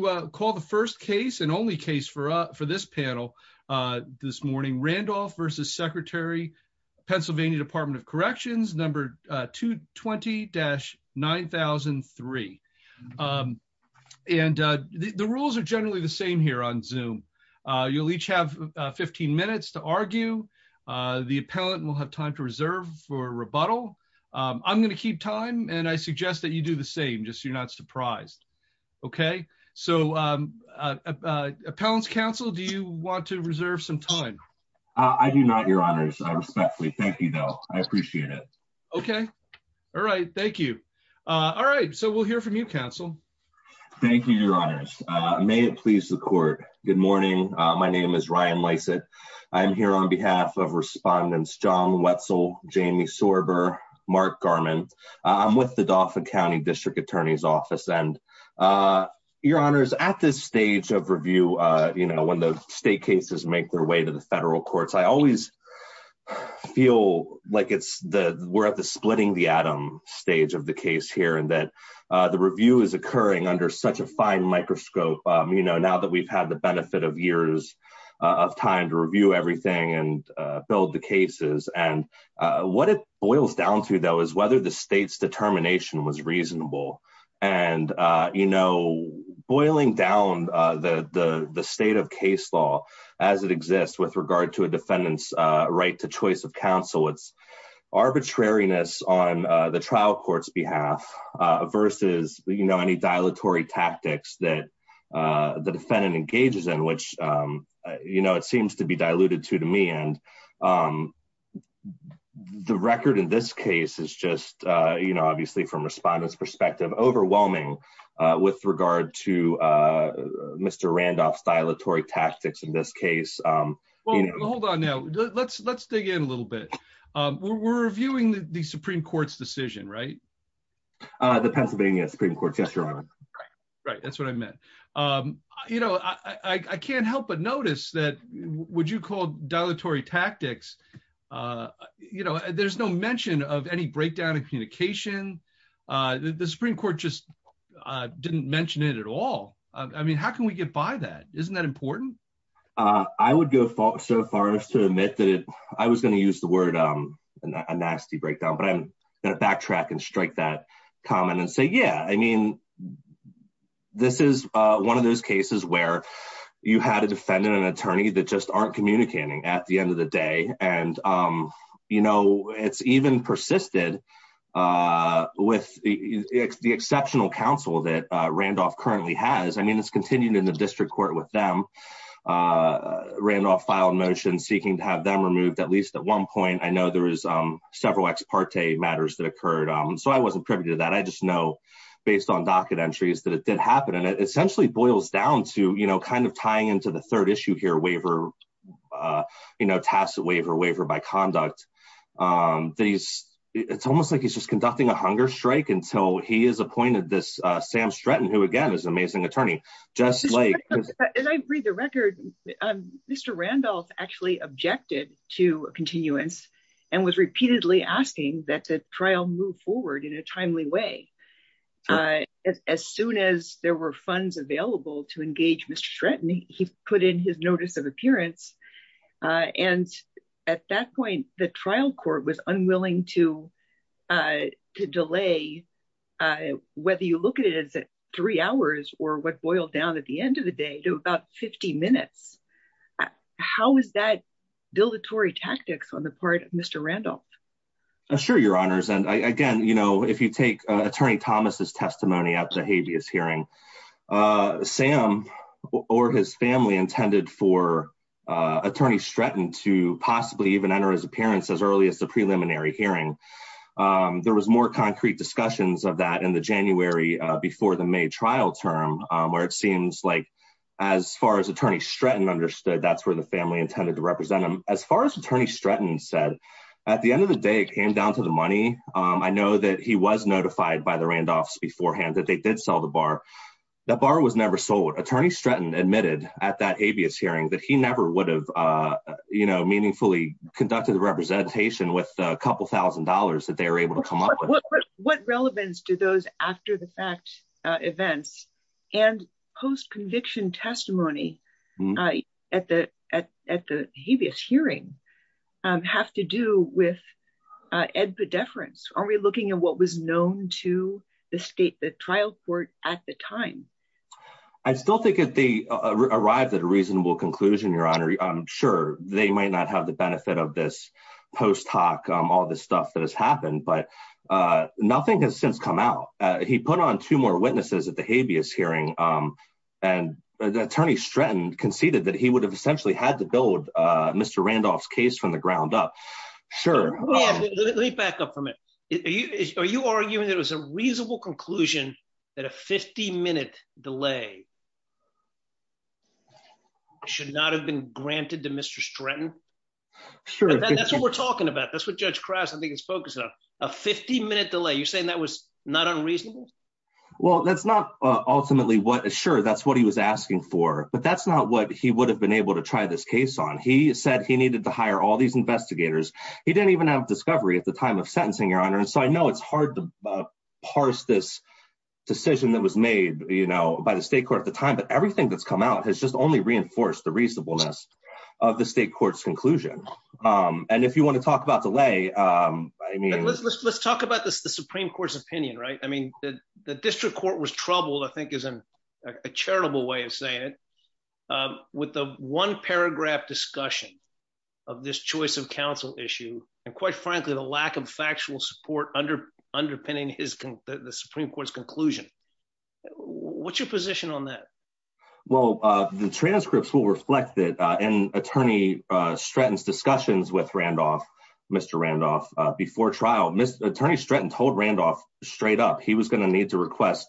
220-9003. And the rules are generally the same here on Zoom. You'll each have 15 minutes to argue. The appellant will have time to reserve for rebuttal. I'm going to keep time and I suggest that you do the same, just so you're not surprised. Okay. So appellant's counsel, do you want to reserve some time? I do not, your honors. I respectfully thank you though. I appreciate it. Okay. All right. Thank you. All right. So we'll hear from you counsel. Thank you, your honors. May it please the court. Good morning. My name is Ryan Lysett. I'm here on behalf of respondents. John Wetzel, Jamie Sorber, Mark Garment. I'm with the Dauphin County district attorney's office. And your honors at this stage of review, you know, when the state cases make their way to the federal courts, I always feel like it's the, we're at the splitting the atom stage of the case here and that the review is occurring under such a fine microscope. You know, now that we've had the benefit of years of time to review everything and build the cases and what it boils down to though, is whether the state's determination was reasonable. And, you know, boiling down the state of case law as it exists with regard to a defendant's right to choice of counsel, it's arbitrariness on the trial court's behalf versus, you know, any dilatory tactics that the defendant engages in, which, you know, it seems to be diluted to, to me. And. The record in this case is just, you know, obviously from respondents perspective, overwhelming with regard to Mr. Randolph's dilatory tactics in this case. Well, hold on now. Let's, let's dig in a little bit. We're reviewing the Supreme court's decision, right? The Pennsylvania Supreme court. Right. That's what I meant. You know, I can't help, but notice that would you call dilatory tactics? You know, there's no mention of any breakdown in communication. The Supreme court just didn't mention it at all. I mean, how can we get by that? Isn't that important? I would go so far as to admit that I was going to use the word a nasty breakdown, but I'm going to backtrack and strike that comment and say, yeah, I mean, this is one of those cases where you had a defendant, an attorney that just aren't communicating at the end of the day. And, you know, it's even persisted with the, the exceptional counsel that Randolph currently has. I mean, it's continued in the district court with them. Randolph filed motion, seeking to have them removed at least at one point, I know there was several ex parte matters that occurred. So I wasn't privy to that. I just know based on docket entries that it did happen and it essentially boils down to, you know, kind of tying into the third issue here, waiver, you know, tacit waiver, waiver by conduct. It's almost like he's just conducting a hunger strike until he is appointed this Sam Stratton, who again is an amazing attorney. As I read the record, Mr. Randolph actually objected to a continuance and was repeatedly asking that the trial move forward in a timely way. As soon as there were funds available to engage Mr. Stratton, he put in his notice of appearance. And at that point, the trial court was unwilling to, to delay, whether you look at it as three hours or what boiled down at the end of the day to about 50 minutes. How is that dilatory tactics on the part of Mr. Randolph? Sure. Your honors. And I, again, you know, if you take attorney Thomas's testimony at the habeas hearing Sam or his family intended for attorney Stratton to possibly even enter his appearance as early as the preliminary hearing, there was more concrete discussions of that in the January before the May trial term, where it seems like as far as attorney Stratton understood, that's where the family intended to represent them. As far as attorney Stratton said at the end of the day, it came down to the money. I know that he was notified by the Randolph's beforehand that they did sell the bar. That bar was never sold. Attorney Stratton admitted at that habeas hearing that he never would have, you know, meaningfully conducted the representation with a couple thousand dollars that they were able to come up with. What relevance do those after the fact events and post conviction testimony at the, at, at the habeas hearing have to do with ed pediferance? Are we looking at what was known to the state, the trial court at the time? I still think that they arrived at a reasonable conclusion, your honor. I'm sure they might not have the benefit of this post hoc, all this stuff that has happened, but nothing has since come out. He put on two more witnesses at the habeas hearing and the attorney Stratton conceded that he would have essentially had to build a Mr. Randolph's case from the ground up. Sure. Let me back up from it. Are you, are you arguing that it was a reasonable conclusion that a 50 minute delay should not have been granted to Mr. Stratton? Sure. That's what we're talking about. That's what judge crafts. I think it's focused on a 50 minute delay. You're saying that was not unreasonable. Well, that's not ultimately what, sure. That's what he was asking for, but that's not what he would have been able to try this case on. He said he needed to hire all these investigators. He didn't even have discovery at the time of sentencing your honor. And so I know it's hard to parse this. Decision that was made by the state court at the time, but everything that's come out has just only reinforced the reasonableness of the state court's conclusion. And if you want to talk about delay, I mean, Let's talk about this, the Supreme court's opinion, right? I mean, the district court was troubled. I think is a charitable way of saying it. With the one paragraph discussion. Of this choice of counsel issue. And quite frankly, the lack of factual support under underpinning his. The Supreme court's conclusion. What's your position on that? Well, the transcripts will reflect that. And attorney. Stratton's discussions with Randolph. Mr. Randolph. Before trial, Mr. Attorney Stratton told Randolph straight up. He was going to need to request.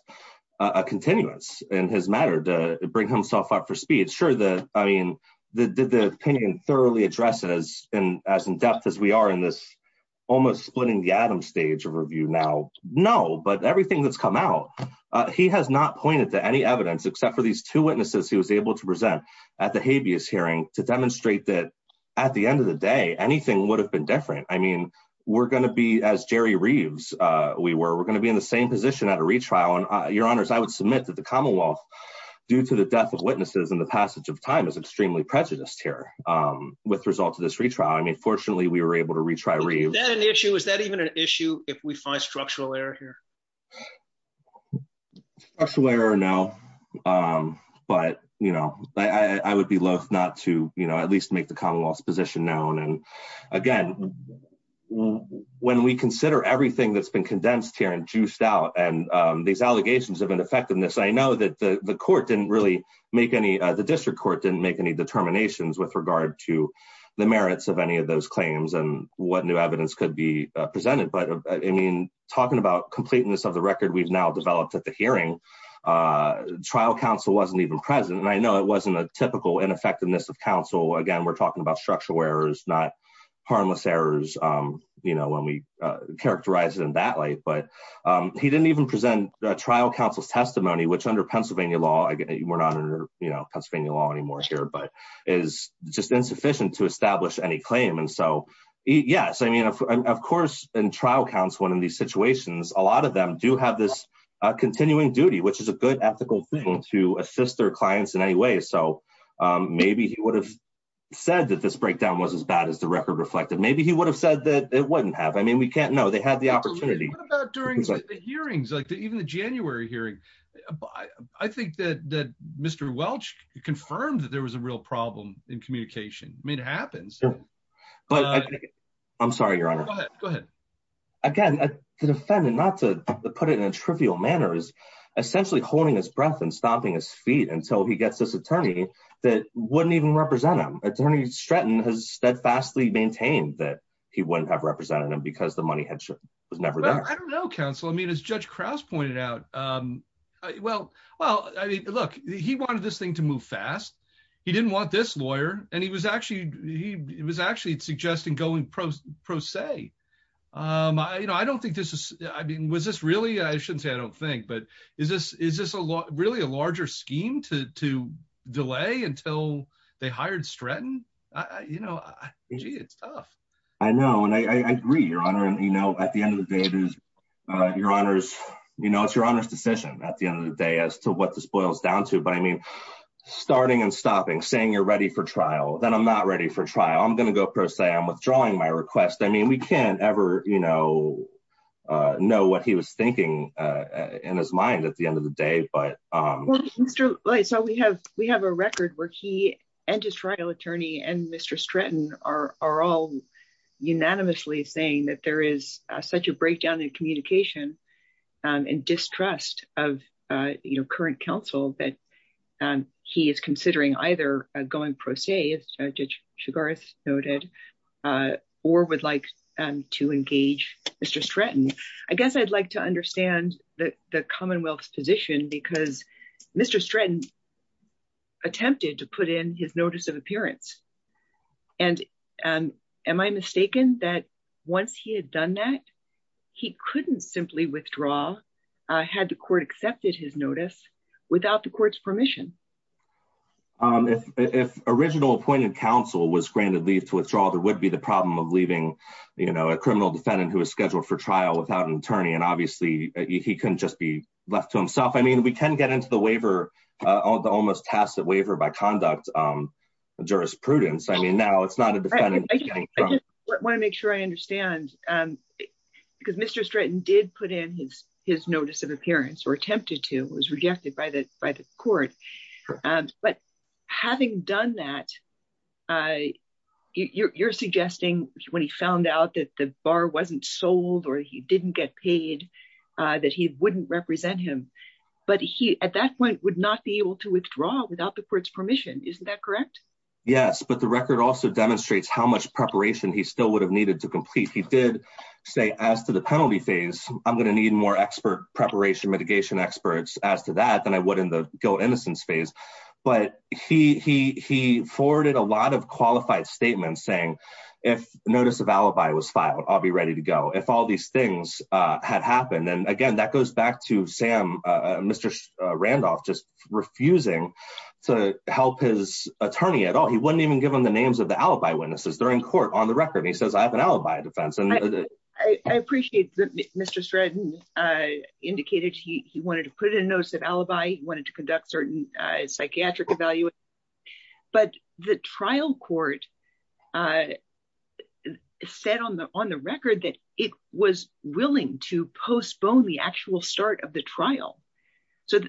A continuance in his matter to bring himself up for speed. Sure. I mean, The opinion thoroughly addresses and as in depth as we are in this. Almost splitting the Adam stage of review now. No, but everything that's come out. He has not pointed to any evidence except for these two witnesses. He was able to present. At the habeas hearing to demonstrate that. I think. At the end of the day, anything would have been different. I mean, We're going to be as Jerry Reeves. We were, we're going to be in the same position at a retrial and your honors, I would submit that the Commonwealth. Due to the death of witnesses and the passage of time is extremely prejudiced here. With results of this retrial. I mean, fortunately we were able to retry. Is that an issue? Is that even an issue? If we find structural error here. I don't know. I don't know if it's a structural error. No. But, you know, I, I, I would be loath not to, you know, at least make the Commonwealth's position known. And again, When we consider everything that's been condensed here and juiced out and these allegations of an effectiveness. I know that the court didn't really make any, the district court didn't make any determinations with regard to. The merits of any of those claims and what new evidence could be presented, but I mean, Talking about completeness of the record we've now developed at the hearing. Trial counsel wasn't even present. And I know it wasn't a typical ineffectiveness of counsel. Again, we're talking about structural errors, not. Harmless errors. You know, when we characterize it in that light, but. He didn't even present a trial counsel's testimony, which under Pennsylvania law, I get it. We're not under Pennsylvania law anymore here, but it's just insufficient to establish any claim. And so. Yes. I mean, of course, in trial counts, one of these situations, a lot of them do have this. Continuing duty, which is a good ethical thing to assist their clients in any way. So maybe he would have. Said that this breakdown was as bad as the record reflected. Maybe he would have said that it wouldn't have, I mean, we can't know. They had the opportunity. During the hearings, like the, even the January hearing. I think that, that Mr. Welch confirmed that there was a real problem in communication. I mean, it happens. I'm sorry. You're on. Go ahead. Again, The defendant not to put it in a trivial manner is essentially holding his breath and stomping his feet until he gets this attorney that wouldn't even represent him. Attorney Stratton has steadfastly maintained that he wouldn't have represented him because the money had. I don't know. Counsel. I mean, as judge Krauss pointed out. Well, well, I mean, look, he wanted this thing to move fast. He didn't want this lawyer and he was actually, he, it was actually suggesting going pro pro se. You know, I don't think this is, I mean, was this really, I shouldn't say I don't think, but is this, is this a lot really a larger scheme to, to delay until they hired Stratton? I, you know, Gee, it's tough. I know. And I agree your honor. And, you know, at the end of the day, Your honors, you know, it's your honor's decision at the end of the day as to what this boils down to, but I mean, starting and stopping saying you're ready for trial, then I'm not ready for trial. I'm going to go pro se. I'm withdrawing my request. I mean, we can't ever, you know, know what he was thinking in his mind at the end of the day, but So we have, we have a record where he and his trial attorney and Mr. Stratton are, are all unanimously saying that there is such a breakdown in communication and distrust of, you know, current counsel that he is considering either going pro se as Judge Shugarth noted, or would like to engage Mr. Stratton. I guess I'd like to understand that the Commonwealth's position because Mr. Stratton attempted to put in his notice of appearance and am I mistaken that once he had done that, he couldn't simply withdraw had the court accepted his notice without the court's permission. If, if original appointed counsel was granted leave to withdraw, there would be the problem of leaving, you know, a criminal defendant who was scheduled for trial without an attorney. And obviously he couldn't just be left to himself. I mean, we can get into the waiver, the almost tacit waiver by conduct jurisprudence. I mean, now it's not a defendant. I want to make sure I understand because Mr. Stratton did put in his, his notice of appearance or attempted to was rejected by the, by the court. But having done that, you're suggesting when he found out that the bar wasn't sold or he didn't get paid that he wouldn't represent him, but he, at that point would not be able to withdraw without the court's permission. Isn't that correct? Yes, but the record also demonstrates how much preparation he still would have needed to complete. He did say as to the penalty phase, I'm going to need more expert preparation, mitigation experts as to that than I would in the guilt innocence phase. But he, he, he forwarded a lot of qualified statements saying if notice of alibi was filed, I'll be ready to go. If all these things had happened. And again, that goes back to Sam, Mr. Randolph, just refusing to help his attorney at all. He wouldn't even give him the names of the alibi witnesses during court on the record. And he says, I have an alibi defense. I appreciate that Mr. Stratton indicated he, he wanted to put it in a notice of alibi. He wanted to conduct certain psychiatric evaluation, but the trial court said on the, on the record that it was willing to postpone the actual start of the trial. So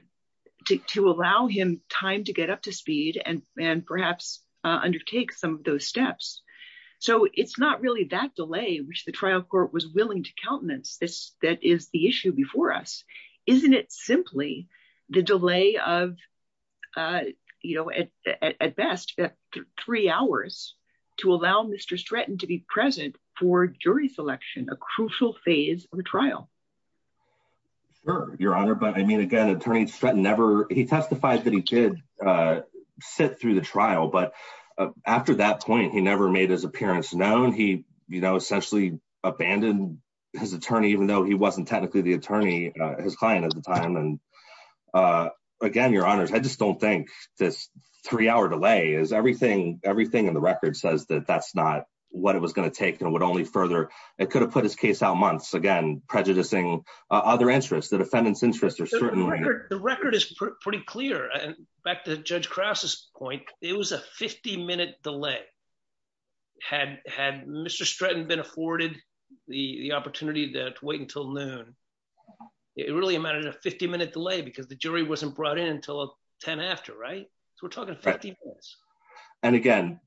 to allow him time to get up to speed and, and perhaps undertake some of those steps. So it's not really that delay, which the trial court was willing to countenance this, that is the issue before us. Isn't it simply the delay of, you know, at, at, at best three hours to allow Mr. Stratton to be present for jury selection, a crucial phase of the trial. Sure. Your honor. But I mean, again, attorney Stratton never, he testified that he did sit through the trial, but after that point, he never made his appearance known. He, you know, essentially abandoned his attorney, even though he wasn't technically the attorney, his client at the time. And again, your honors, I just don't think this three hour delay is everything, everything in the record says that that's not what it was going to take and would only further, it could have put his case out months again, prejudicing other interests that offendants interests are certainly. The record is pretty clear. And back to judge Krauss's point, it was a 50 minute delay had, had Mr. Stratton been afforded the opportunity to wait until noon. It really amounted to a 50 minute delay because the jury wasn't brought in until 10 after. Right. So we're talking 50 minutes. And again,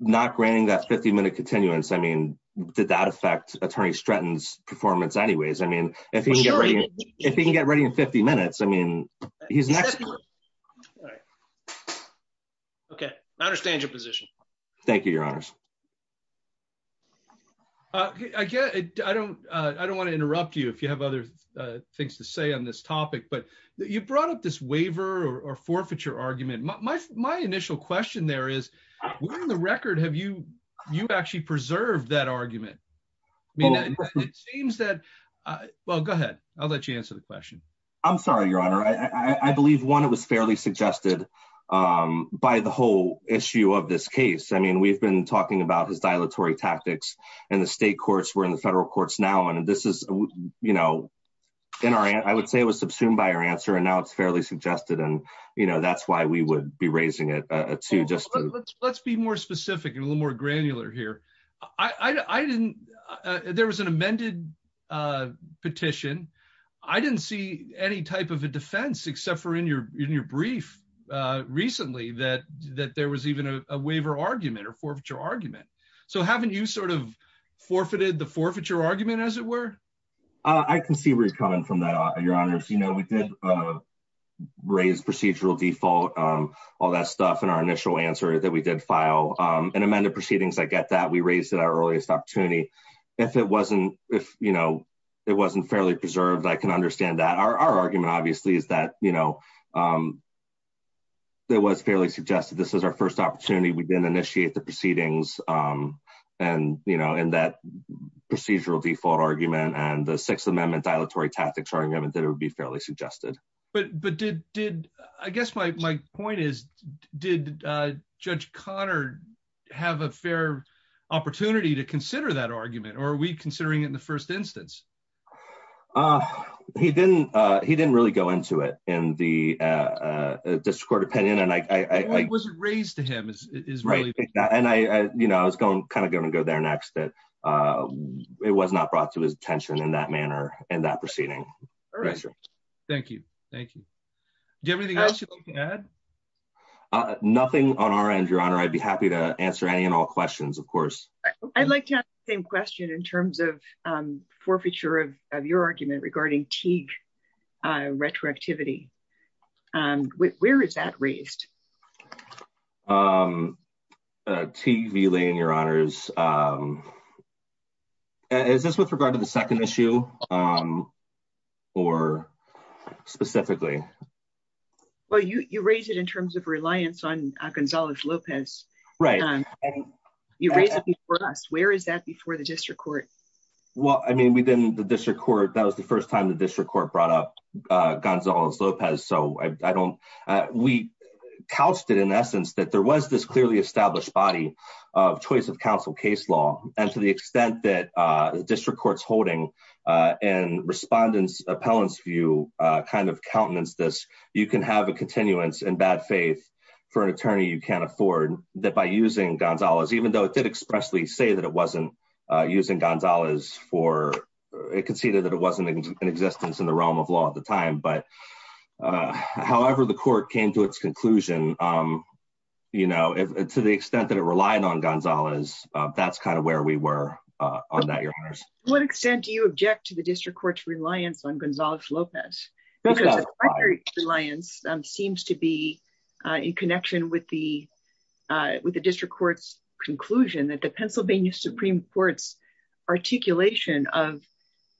not granting that 50 minute continuance. I mean, did that affect attorney Stratton's performance anyways? I mean, if he can get ready in 50 minutes, I mean, he's next. Okay. I understand your position. Thank you, your honors. I guess I don't, I don't want to interrupt you. If you have other things to say on this topic, but you brought up this waiver or forfeiture argument. My, my, my initial question there is the record. Have you, have you actually preserved that argument? I mean, it seems that, well, go ahead. I'll let you answer the question. I'm sorry, your honor. I, I believe one, it was fairly suggested by the whole issue of this case. I mean, we've been talking about his dilatory tactics and the state courts were in the federal courts now, and this is, you know, in our, I would say it was subsumed by our answer and now it's fairly suggested. And, you know, that's why we would be raising it to just, let's be more specific and a little more granular here. I didn't, there was an amended petition. I didn't see any type of a defense except for in your, in your brief recently, that, that there was even a waiver argument or forfeiture argument. So haven't you sort of forfeited the forfeiture argument as it were? I can see where he's coming from that. Your honors, you know, we did raise procedural default, all that stuff in our initial answer that we did file an amended proceedings. I get that. We raised it our earliest opportunity. If it wasn't, if you know, it wasn't fairly preserved. I can understand that our, our argument obviously is that, you know, there was fairly suggested, this is our first opportunity. We didn't initiate the proceedings and, you know, in that procedural default argument and the sixth amendment dilatory tactics argument that it would be fairly suggested. But, but did, did, I guess my, my point is, did judge Connor, have a fair opportunity to consider that argument or are we considering it in the first instance? He didn't, he didn't really go into it in the district court opinion. And I, I wasn't raised to him is really, and I, you know, I was going, kind of going to go there next that it was not brought to his attention in that manner and that proceeding. Thank you. Thank you. Do you have anything else you can add? Nothing on our end, your honor. I'd be happy to answer any and all questions of course. I'd like to ask the same question in terms of forfeiture of, of your argument regarding Teague retroactivity. Where is that raised? TV lane, your honors. Is this with regard to the second issue? Or specifically? Well, you, you raise it in terms of reliance on Gonzalez Lopez, right? You raised it for us. Where is that before the district court? Well, I mean, we didn't, the district court, that was the first time the district court brought up Gonzalez Lopez. So I don't, we couched it in essence that there was this clearly established body of law. And that there was a, that there was a continuance in bad faith for an attorney. You can't afford that by using Gonzalez, even though it did expressly say that it wasn't using Gonzalez for it could see that, that it wasn't an existence in the realm of law at the time. But however, the court came to its conclusion, you know, to the extent that it relied on Gonzalez, that's kind of where we were on that. Your honors. To what extent do you object to the district court's reliance on Gonzalez Lopez? Reliance seems to be in connection with the, with the district court's conclusion that the Pennsylvania Supreme court's articulation of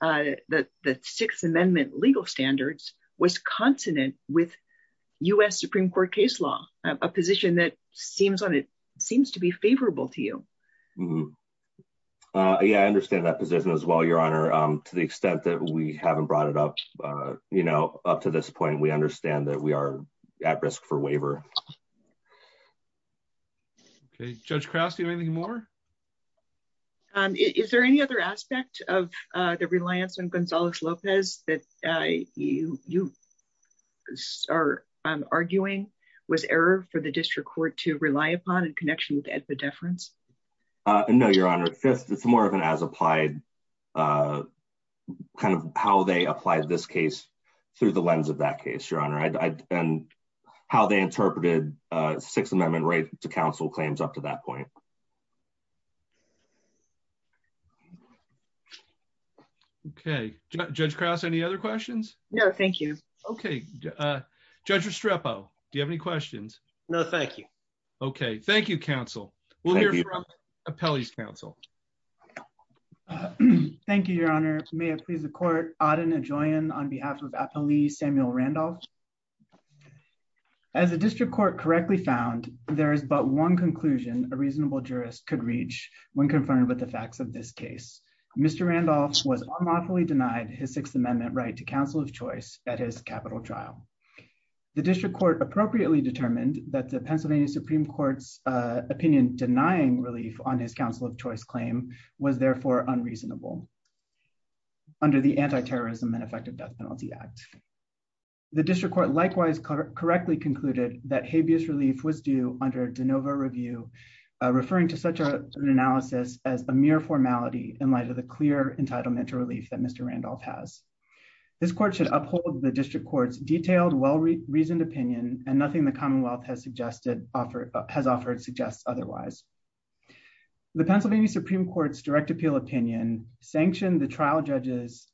that, that sixth amendment legal standards was consonant with us Supreme court case law, a position that seems on, it seems to be favorable to you. Yeah, I understand that position as well. Your honor, to the extent that we haven't brought it up, you know, up to this point, we understand that we are at risk for waiver. Okay. Judge Crouse, do you have anything more? Is there any other aspect of the reliance on Gonzalez Lopez that you, you are arguing was error for the district court to rely upon in connection with the difference? No, your honor. Fifth, it's more of an as applied kind of how they applied this case through the lens of that case, your honor. And how they interpreted a sixth amendment right to counsel claims up to that point. Okay. Judge Crouse, any other questions? No, thank you. Okay. Judge Restrepo, do you have any questions? No, thank you. Okay. Thank you counsel. We'll hear from Appellee's counsel. Thank you, your honor. May I please the court, Auden Adjoian on behalf of Appellee Samuel Randolph. As a district court correctly found, there is but one conclusion a reasonable jurist could reach when confronted with the facts of this case. Mr. Randolph was unlawfully denied his sixth amendment right to counsel of choice at his capital trial. The district court appropriately determined that the Pennsylvania Supreme court's opinion, denying relief on his counsel of choice claim was therefore unreasonable under the anti-terrorism and effective death penalty act. The district court likewise correctly concluded that habeas relief was due under DeNova review, referring to such an analysis as a mere formality in light of the clear entitlement to relief that Mr. Randolph has. This court should uphold the district court's detailed well-reasoned opinion and nothing the Commonwealth has suggested offer has offered suggests otherwise. The Pennsylvania Supreme court's direct appeal opinion sanctioned the trial judges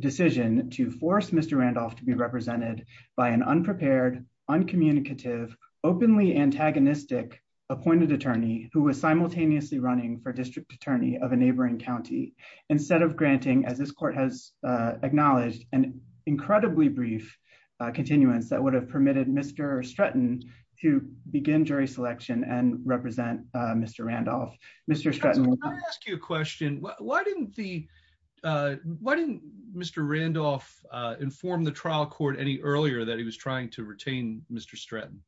decision to force Mr. Randolph to be represented by an unprepared uncommunicative openly antagonistic appointed attorney who was simultaneously running for district attorney of a neighboring County, instead of granting, as this court has acknowledged an incredibly brief continuance that would have permitted Mr. Stratton to begin jury selection and represent Mr. Randolph, Mr. Stratton. I ask you a question. Why didn't the, why didn't Mr. Randolph inform the trial court any earlier that he was trying to retain Mr. Stratton?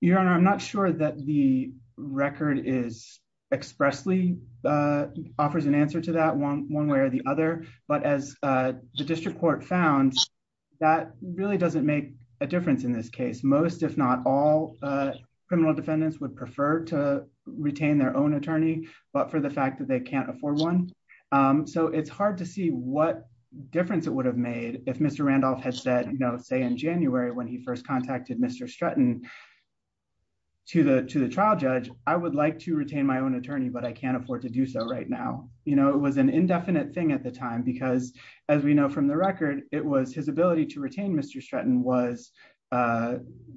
Your honor. I'm not sure that the record is expressly offers an answer to that one, one way or the other, but as the district court found, that really doesn't make a difference in this case. Most if not all criminal defendants would prefer to retain their own attorney, but for the fact that they can't afford one. So it's hard to see what difference it would have made if Mr. Randolph had said, you know, say in January, when he first contacted Mr. Stratton to the, to the trial judge, I would like to retain my own attorney, but I can't afford to do so right now. You know, it was an indefinite thing at the time because as we know from the record, it was his ability to retain Mr. Stratton was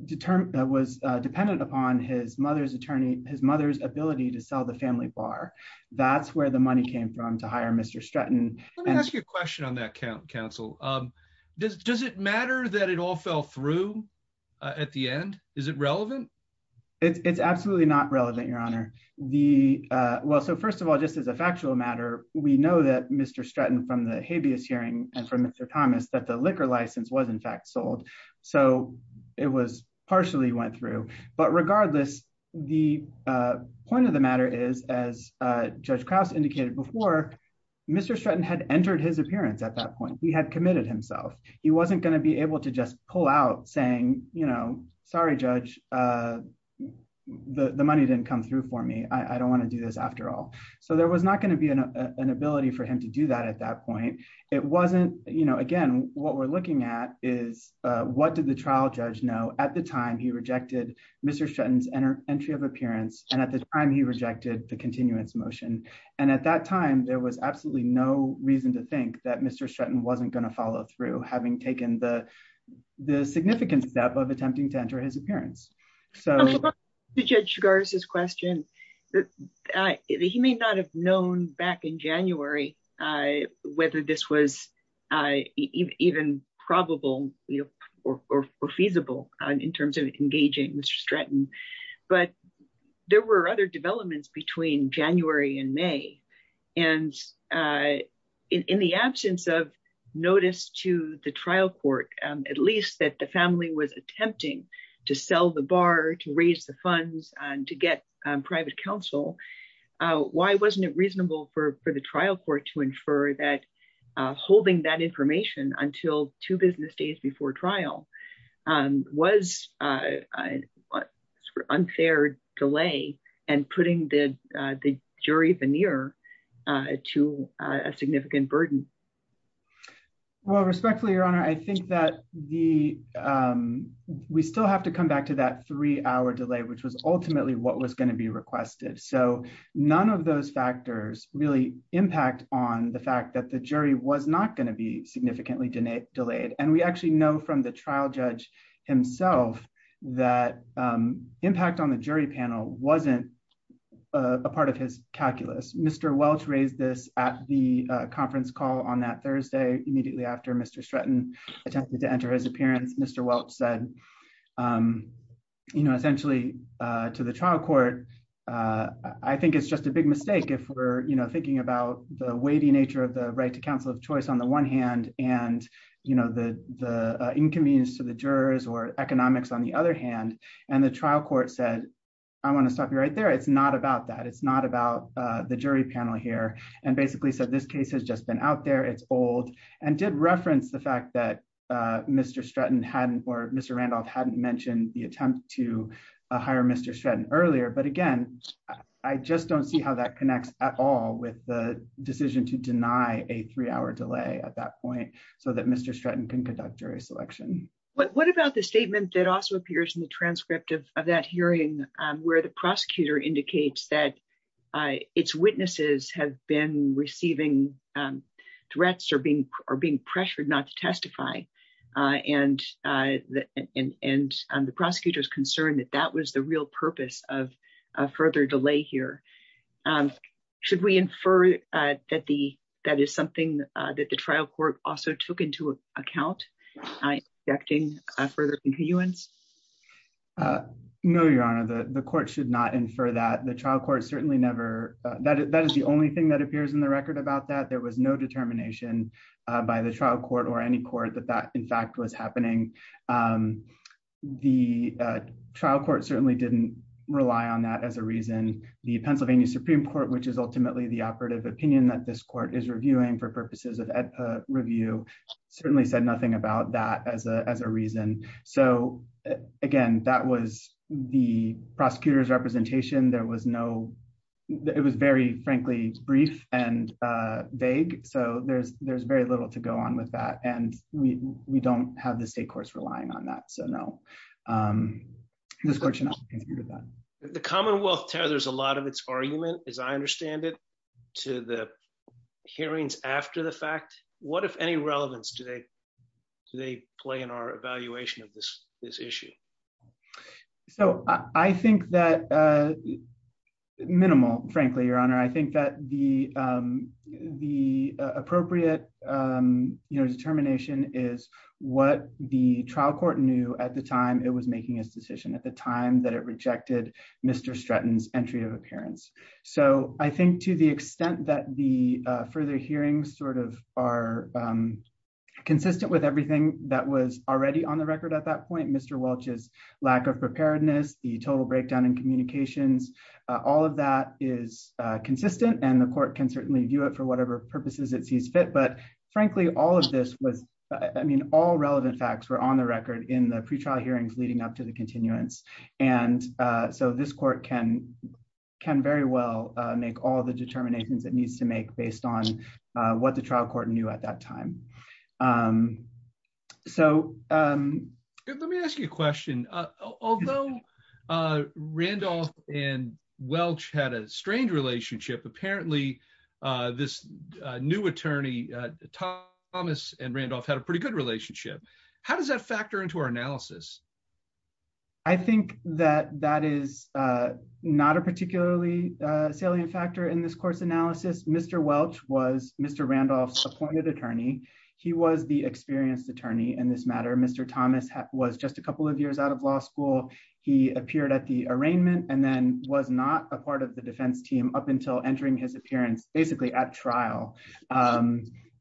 determined that was dependent upon his mother's attorney, his mother's ability to sell the family bar. That's where the money came from to hire Mr. Stratton. Let me ask you a question on that count counsel. Does it matter that it all fell through at the end? Is it relevant? It's absolutely not relevant, your honor. The well, so first of all, just as a factual matter, we know that Mr. Stratton from the habeas hearing and from Mr. Thomas, that the liquor license was in fact sold. So it was partially went through, but regardless, the point of the matter is as judge Krauss indicated before, Mr. Stratton had entered his appearance at that point, he had committed himself. He wasn't going to be able to just pull out saying, you know, sorry, judge. The money didn't come through for me. I don't want to do this after all. So there was not going to be an, an ability for him to do that at that point. It wasn't, you know, again, what we're looking at is what did the trial judge know at the time he rejected Mr. Stratton's enter entry of appearance. And at the time he rejected the continuance motion. And at that time, there was absolutely no reason to think that Mr. Stratton wasn't going to follow through having taken the, the significant step of attempting to enter his appearance. So. Thank you. Thank you. To judge cigars, his question. He may not have known back in January. Whether this was. Even probable. Or feasible in terms of engaging Mr. Stratton. But there were other developments between January and may. I'm just curious. there was a lot of information that was available to the jury. And. In the absence of notice to the trial court, at least that the family was attempting. To sell the bar, to raise the funds and to get private counsel. Why wasn't it reasonable for, for the trial court to infer that. Holding that information until two business days before trial. Was. Unfair delay. And putting the jury veneer. To a significant burden. Well, respectfully, your honor. I think that the. We still have to come back to that three hour delay, which was ultimately what was going to be requested. So. None of those factors really impact on the fact that the jury was not And that that was going to be significantly denied, delayed. And we actually know from the trial judge. Himself. That impact on the jury panel. Wasn't. A part of his calculus, Mr. Welch raised this at the conference call on that Thursday, immediately after Mr. Stratton. Attempted to enter his appearance. Mr. Welch said. Well, the jury panel was in a position to say, we're going to continue to do what we're doing. And essentially. To the trial court. I think it's just a big mistake if we're, you know, thinking about the weighty nature of the right to counsel of choice on the one hand and. You know, the, the inconvenience to the jurors or economics on the other hand, and the trial court said. I want to stop you right there. It's not about that. It's not about the jury panel here. And basically said this case has just been out there. It's old. And did reference the fact that. Mr. Stratton hadn't, or Mr. Randolph hadn't mentioned the attempt to hire Mr. Shred earlier. But again, I just don't see how that connects at all with the decision to deny a three hour delay at that point. And that's why we're asking for a delay so that Mr. Stratton can conduct jury selection. What about the statement that also appears in the transcript of that hearing? Where the prosecutor indicates that. It's witnesses have been receiving. Threats are being, are being pressured not to testify. And the prosecutor is concerned that that was the real purpose of And that's why we're asking for a further delay here. Should we infer. That the, that is something that the trial court also took into account. I acting. No, Your Honor. The court should not infer that the trial court certainly never. That is the only thing that appears in the record about that there was no determination. By the trial court or any court that that in fact was happening. The trial court certainly didn't rely on that as a reason. The Pennsylvania Supreme court, which is ultimately the operative opinion that this court is reviewing for purposes of. Review. Certainly said nothing about that as a, as a reason. So. Again, that was the prosecutor's representation. There was no. It was very frankly brief and vague. So there's, there's very little to go on with that. And we, we don't have the state course relying on that. So no. This question. The commonwealth. There's a lot of its argument, as I understand it. To the. Hearings after the fact, what, if any relevance do they. Do they play in our evaluation of this, this issue. So I think that. Minimal, frankly, your honor. I think that the, the appropriate. You know, determination is what the trial court knew at the time. It was making his decision at the time that it rejected. Mr. Stratton's entry of appearance. So I think to the extent that the further hearings sort of are. You know, consistent with everything that was already on the record at that point, Mr. Welch's lack of preparedness, the total breakdown in communications. All of that is consistent and the court can certainly view it for whatever purposes it sees fit. But frankly, all of this was. I mean, all relevant facts were on the record in the pretrial hearings leading up to the continuance. And so this court can. Can very well make all the determinations that needs to make based on what the trial court knew at that time. So. Let me ask you a question. Although Randolph and Welch had a strange relationship, apparently. This new attorney. Thomas and Randolph had a pretty good relationship. How does that factor into our analysis? I think that that is not a particularly salient factor in this course analysis. Mr. Welch was Mr. Randolph's appointed attorney. He was the experienced attorney in this matter. Mr. Thomas was just a couple of years out of law school. He appeared at the arraignment and then was not a part of the defense team up until entering his appearance, basically at trial.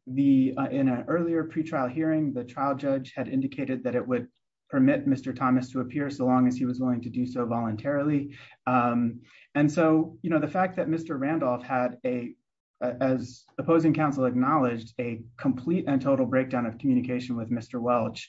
The in an earlier pretrial hearing, the trial judge had indicated that it would permit Mr. Thomas to appear so long as he was willing to do so voluntarily. And so, you know, the fact that Mr. Randolph had a, as opposing counsel acknowledged a complete and total breakdown of communication with Mr. Welch.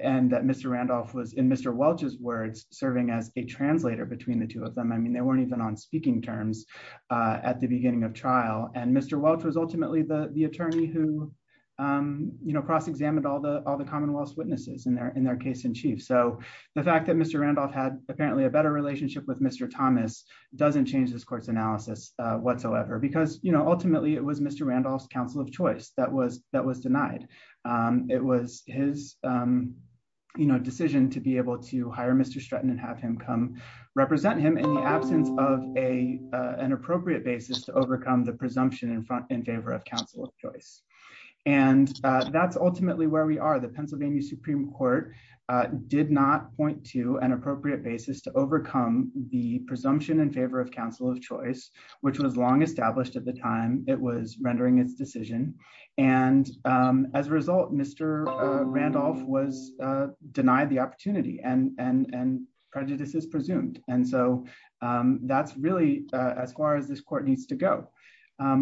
And that Mr. Randolph was in Mr. Welch's words serving as a translator between the two of them. I mean, they weren't even on speaking terms. At the beginning of trial and Mr. Welch was ultimately the attorney who, you know, cross-examined all the, all the Commonwealth's witnesses in their, in their case in chief. So the fact that Mr. Randolph had apparently a better relationship with Mr. Thomas doesn't change this court's analysis whatsoever because, you know, ultimately it was Mr. Randolph's counsel of choice that was, that was denied. It was his, you know, decision to be able to hire Mr. Stratton and have him come represent him in the absence of a, you know, an appropriate basis to overcome the presumption in front in favor of counsel of choice. And that's ultimately where we are. The Pennsylvania Supreme court. Did not point to an appropriate basis to overcome the presumption in favor of counsel of choice, which was long established at the time. It was rendering its decision. And as a result, Mr. Randolph was denied the opportunity and, and, and prejudices presumed. And so that's really. That's really where we're at right now. And that's where we, as far as this court needs to go.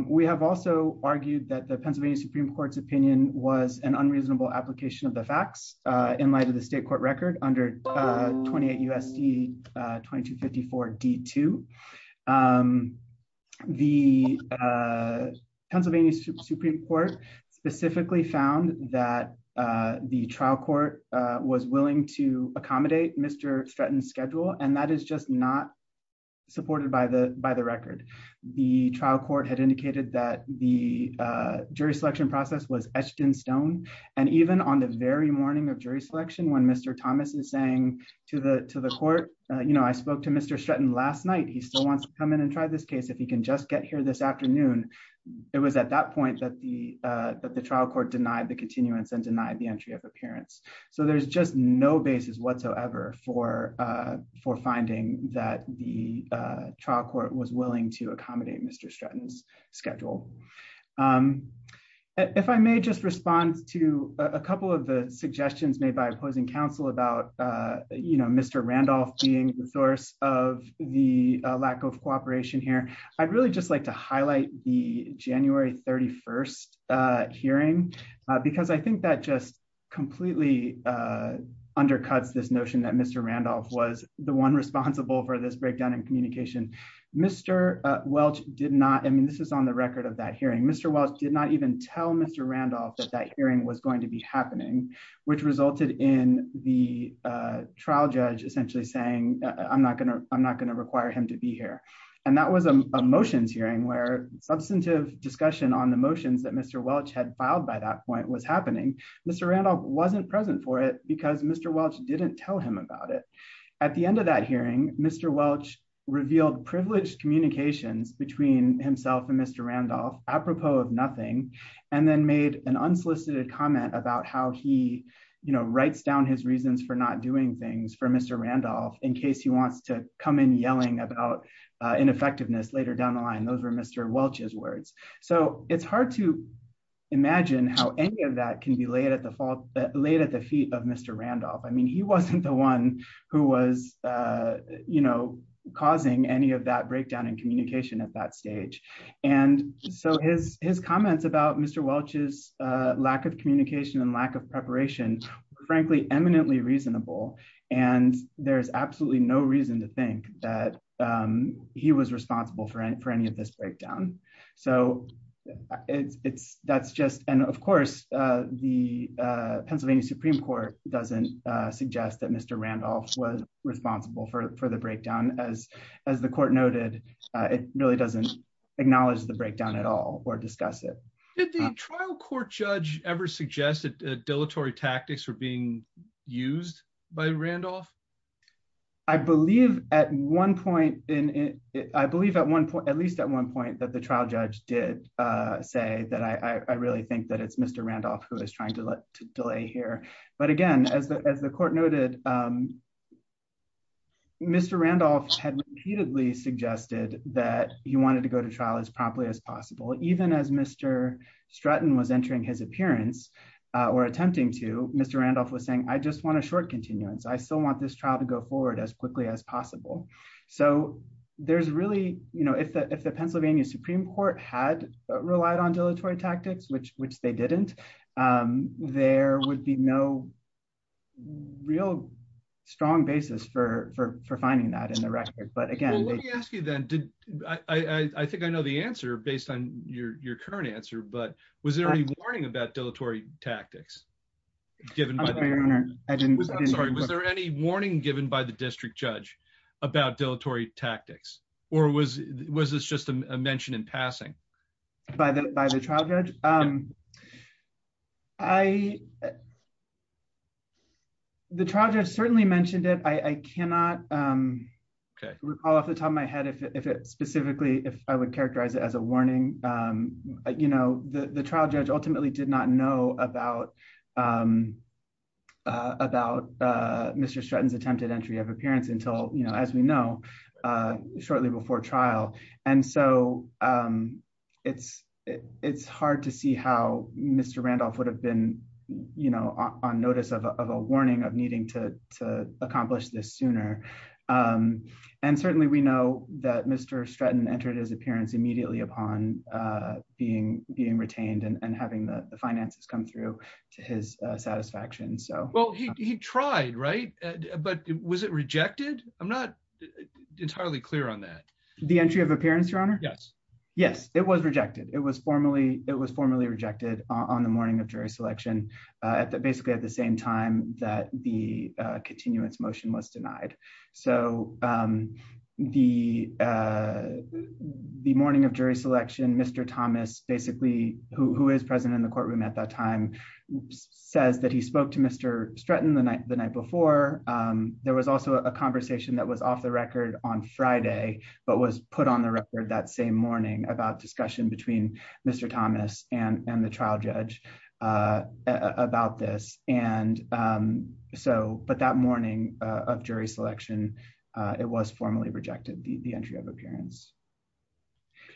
We have also argued that the Pennsylvania Supreme court's opinion was an unreasonable application of the facts in light of the state court record under. 28 USD. 2254 D two. The. Pennsylvania Supreme court. Specifically found that the trial court was willing to accommodate Mr. Stratton schedule. And that is just not. Supported by the, by the record. The trial court had indicated that the jury selection process was etched in stone. And even on the very morning of jury selection, when Mr. Thomas is saying to the, to the court. You know, I spoke to Mr. Stratton last night. He still wants to come in and try this case. If he can just get here this afternoon. And your opinion is that the trial court was willing to accommodate Mr. Stratton's. Schedule. If I may just respond to a couple of the suggestions made by opposing counsel about. You know, Mr. Randolph. Being the source of the lack of cooperation here. I'd really just like to highlight the January 31st. Hearing. Because I think that just completely. Undercuts this notion that Mr. Randolph was the one responsible for this breakdown in communication. Mr. Welch did not. I mean, this is on the record of that hearing. Mr. Welch did not even tell Mr. Randolph that that hearing was going to be happening. Which resulted in the trial judge essentially saying I'm not going to, I'm not going to require him to be here. And that was a motions hearing where substantive discussion on the motions that Mr. Welch had filed by that point was happening. Mr. Randolph wasn't present for it because Mr. Welch didn't tell him about it. At the end of that hearing, Mr. Welch revealed privileged communications between himself and Mr. Randolph. Randolph. Apropos of nothing. And then made an unsolicited comment about how he. You know, writes down his reasons for not doing things for Mr. Randolph in case he wants to come in yelling about ineffectiveness later down the line. Those were Mr. Welch's words. So it's hard to. Imagine how any of that can be laid at the fault that laid at the feet of Mr. Randolph. I mean, he wasn't the one who was, you know, Causing any of that breakdown in communication at that stage. And so his, his comments about Mr. Welch's lack of communication and lack of preparation. Frankly, eminently reasonable. And there's absolutely no reason to think that he was responsible for any, for any of this breakdown. It's, it's, that's just, and of course, the Pennsylvania Supreme court doesn't suggest that Mr. Randolph was responsible for, for the breakdown as, as the court noted, it really doesn't. Acknowledge the breakdown at all or discuss it. Did the trial court judge ever suggested dilatory tactics were being used by Randolph. I believe at one point in it, I believe at one point, at least at one point that the trial judge did say that I, I really think that it's Mr. Randolph who is trying to delay here. But again, as the, as the court noted, Mr. Randolph had repeatedly suggested that he wanted to go to trial as promptly as possible. Even as Mr. Stratton was entering his appearance or attempting to Mr. Randolph was saying, I just want a short continuance. I still want this trial to go forward as quickly as possible. So there's really, you know, if the, if the Pennsylvania Supreme court had relied on dilatory tactics, which, which they didn't, there would be no. Real strong basis for, for, for finding that in the record. But again, I think I know the answer based on your, your current answer, but was there any warning about dilatory tactics? I'm sorry. Was there any warning given by the district judge? About dilatory tactics or was, was this just a mention in passing? By the, by the trial judge. I. The trial judge certainly mentioned it. I cannot. Okay. Recall off the top of my head. If it, if it specifically, if I would characterize it as a warning, you know, the, the trial judge ultimately did not know about. About. Mr. Stratton's attempted entry of appearance until, you know, as we know, Shortly before trial. And so. It's it's hard to see how Mr. Randolph would have been. You know, on notice of, of a warning of needing to accomplish this sooner. And certainly we know that Mr. Stratton entered his appearance immediately upon being, being retained and having the finances come through to his satisfaction. So. He tried, right. But was it rejected? I'm not. Entirely clear on that. The entry of appearance, your honor. Yes. Yes, it was rejected. It was formally, it was formally rejected on the morning of jury selection. On the morning of jury selection, And there was also a conversation. Basically at the same time that the continuance motion was denied. So. The. The morning of jury selection, Mr. Thomas, basically who is present in the courtroom at that time. Says that he spoke to Mr. Stratton the night, the night before. The trial judge. At that time, there was also a conversation that was off the record on Friday. But was put on the record that same morning about discussion between Mr. Thomas and, and the trial judge. About this. And so, but that morning. Of jury selection. It was formally rejected. The entry of appearance.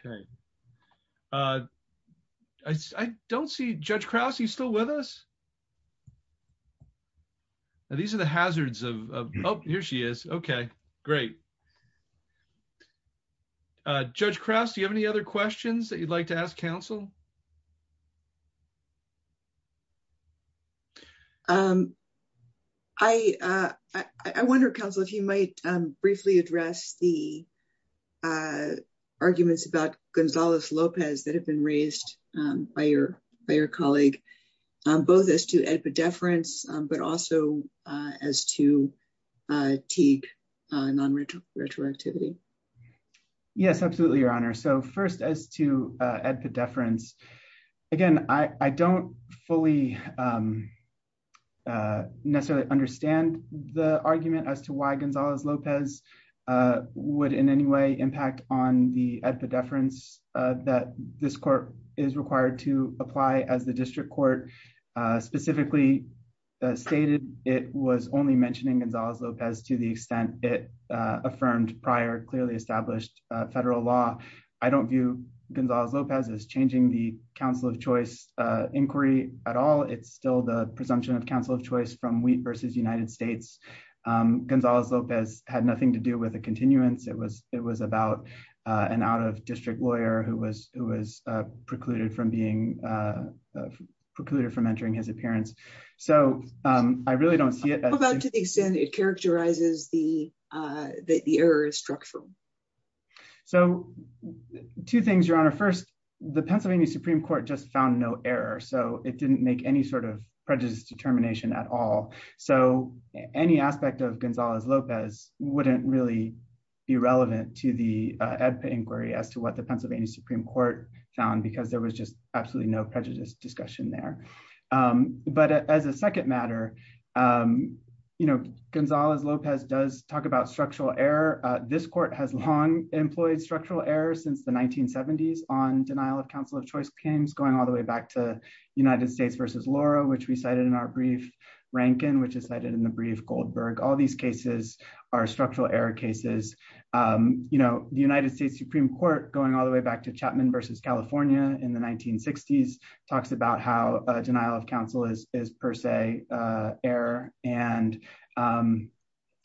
Okay. Okay. I don't see judge Krause. He's still with us. These are the hazards of. Oh, here she is. Okay. Great. Judge Krause. Do you have any other questions that you'd like to ask counsel? I. Okay. I, I wonder counsel, if you might briefly address the. Arguments about Gonzalez Lopez that have been raised by your, by your colleague. Both as to. But also as to. Non-retro retroactivity. Yes, absolutely. Your honor. So first as to. At the deference. I'm sorry. At the deference. Again, I don't fully. Necessarily understand the argument as to why Gonzalez Lopez. Would in any way impact on the, at the deference that this court is required to apply as the district court. Specifically. I don't believe that it has anything to do with the deference that this court is required to apply as the district court. It was clearly. Stated. It was only mentioning Gonzalez Lopez to the extent it. Affirmed prior clearly established. Federal law. I don't view Gonzalez Lopez is changing the council of choice inquiry at all. It's still the presumption of council of choice from wheat versus United States. It's still the presumption of council of choice from the United States. Gonzalez Lopez had nothing to do with a continuance. It was, it was about. An out of district lawyer who was, who was precluded from being. Precluded from entering his appearance. So I really don't see it. To the extent it characterizes the. That the error is structural. So. Two things you're on our first. The Pennsylvania Supreme court just found no error. So it didn't make any sort of prejudice determination at all. So any aspect of Gonzalez Lopez. Wouldn't really. Be relevant to the. Inquiry as to what the Pennsylvania Supreme court found, because there was just absolutely no prejudice discussion there. So. As a second matter. But as a second matter. You know, Gonzalez Lopez does talk about structural error. This court has long employed structural errors since the 1970s on denial of council of choice. It's going all the way back to. United States versus Laura, which we cited in our brief. Rankin, which is cited in the brief Goldberg. All these cases. And. there's a lot of evidence to support that these are structural error cases. You know, the United States Supreme court going all the way back to Chapman versus California in the 1960s talks about how a denial of council is, is per se. Error. And.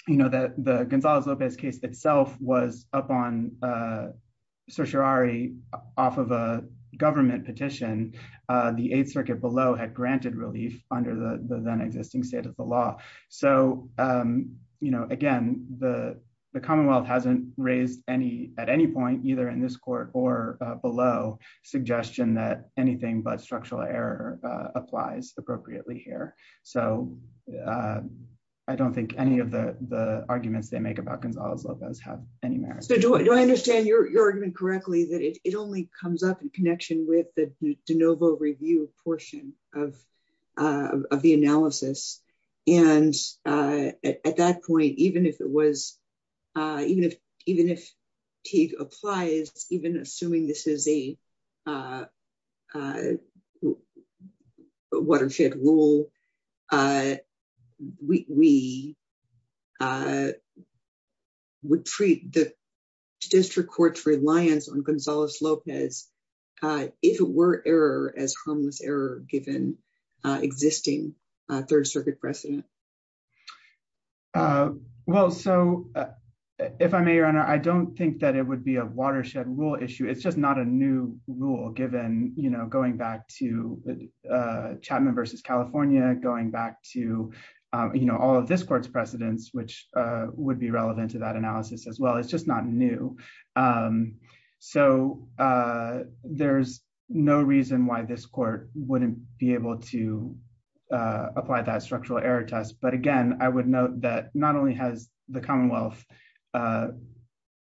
You know, that the Gonzalez Lopez case itself was up on. You know, the, the, the, the, the, the, the, the, the, the, the, The, the. The, the. Off of a government petition, the eighth circuit below had granted relief under the, the then existing state of the law. So, you know, again, the, the Commonwealth hasn't raised any at any point, either in this court or below. Suggestion that anything but structural error applies appropriately here. So I don't think any of the, the arguments they make about Gonzalez Lopez have any merit. Do I understand your argument correctly, that it only comes up in connection with the DeNovo review portion of. Of the analysis. And at that point, even if it was. Even if, even if. He applies, even assuming this is a. Watershed rule. We. Would treat the. District court's reliance on Gonzalez Lopez. If it were error as homeless error, given. Existing third circuit precedent. Well, so. If I may, your honor. I don't think that it would be a watershed rule issue. It's just not a new rule given, you know, going back to. Chapman versus California going back to. You know, all of this court's precedents, which would be relevant to that analysis as well. It's just not new. So there's no reason why this court wouldn't be able to. Apply that structural error test. But again, I would note that not only has the Commonwealth.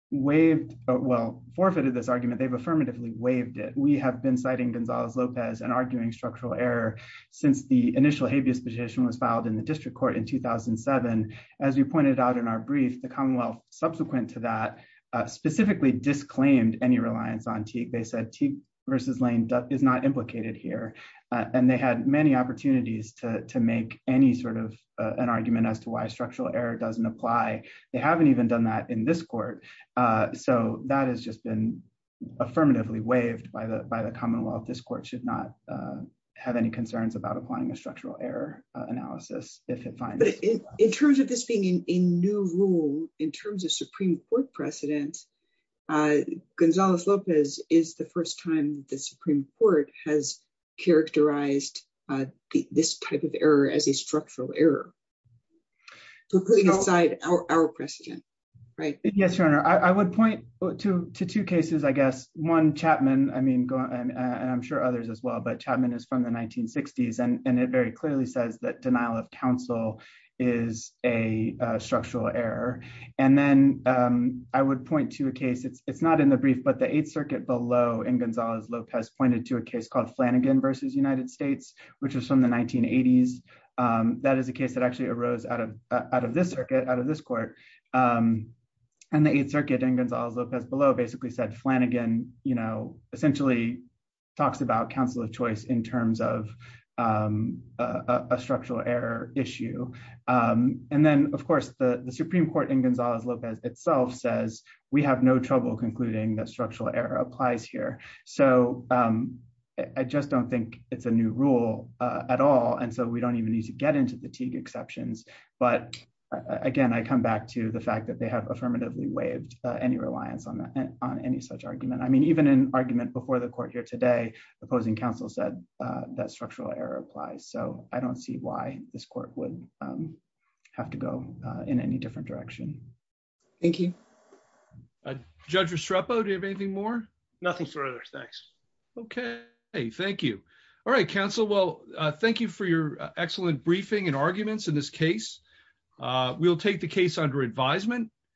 Waived. Well, forfeited this argument. They've affirmatively waived it. We have been citing Gonzalez Lopez and arguing structural error. Since the initial habeas petition was filed in the district court in 2007. As you pointed out in our brief, the Commonwealth subsequent to that. Specifically disclaimed any reliance on TIG. They said T versus lane. Is not implicated here. And they had many opportunities to make any sort of an argument as to why structural error doesn't apply. They haven't even done that in this court. So that has just been. Affirmatively waived by the, by the Commonwealth. This court should not. Have any concerns about applying a structural error analysis. If it finds. In terms of this being in new rule, in terms of Supreme court precedent. I would point to two cases, I guess, one Chapman. I mean, And I'm sure others as well, but Chapman is from the 1960s. And it very clearly says that denial of counsel. Is a structural error. And then I would point to. I would point to a case. It's not in the brief, but the eighth circuit below in Gonzalez Lopez pointed to a case called Flanagan versus United States. Which was from the 1980s. That is a case that actually arose out of, out of this circuit, out of this court. And the eighth circuit and Gonzalez Lopez below basically said Flanagan, you know, essentially. Talks about counsel of choice in terms of. A structural error issue. And then of course the Supreme court in Gonzalez Lopez itself says we have no trouble concluding that structural error applies here. So. I just don't think it's a new rule. At all. And so we don't even need to get into fatigue exceptions. But again, I come back to the fact that they have affirmatively waived any reliance on that. On any such argument. I mean, even in argument before the court here today, I don't see why this court would have to go in any different direction. Thank you. Judge Restrepo. Do you have anything more? Nothing further. Thanks. Okay. Hey, thank you. All right, counsel. Well, thank you for your excellent briefing and arguments in this case. We'll take the case under advisement.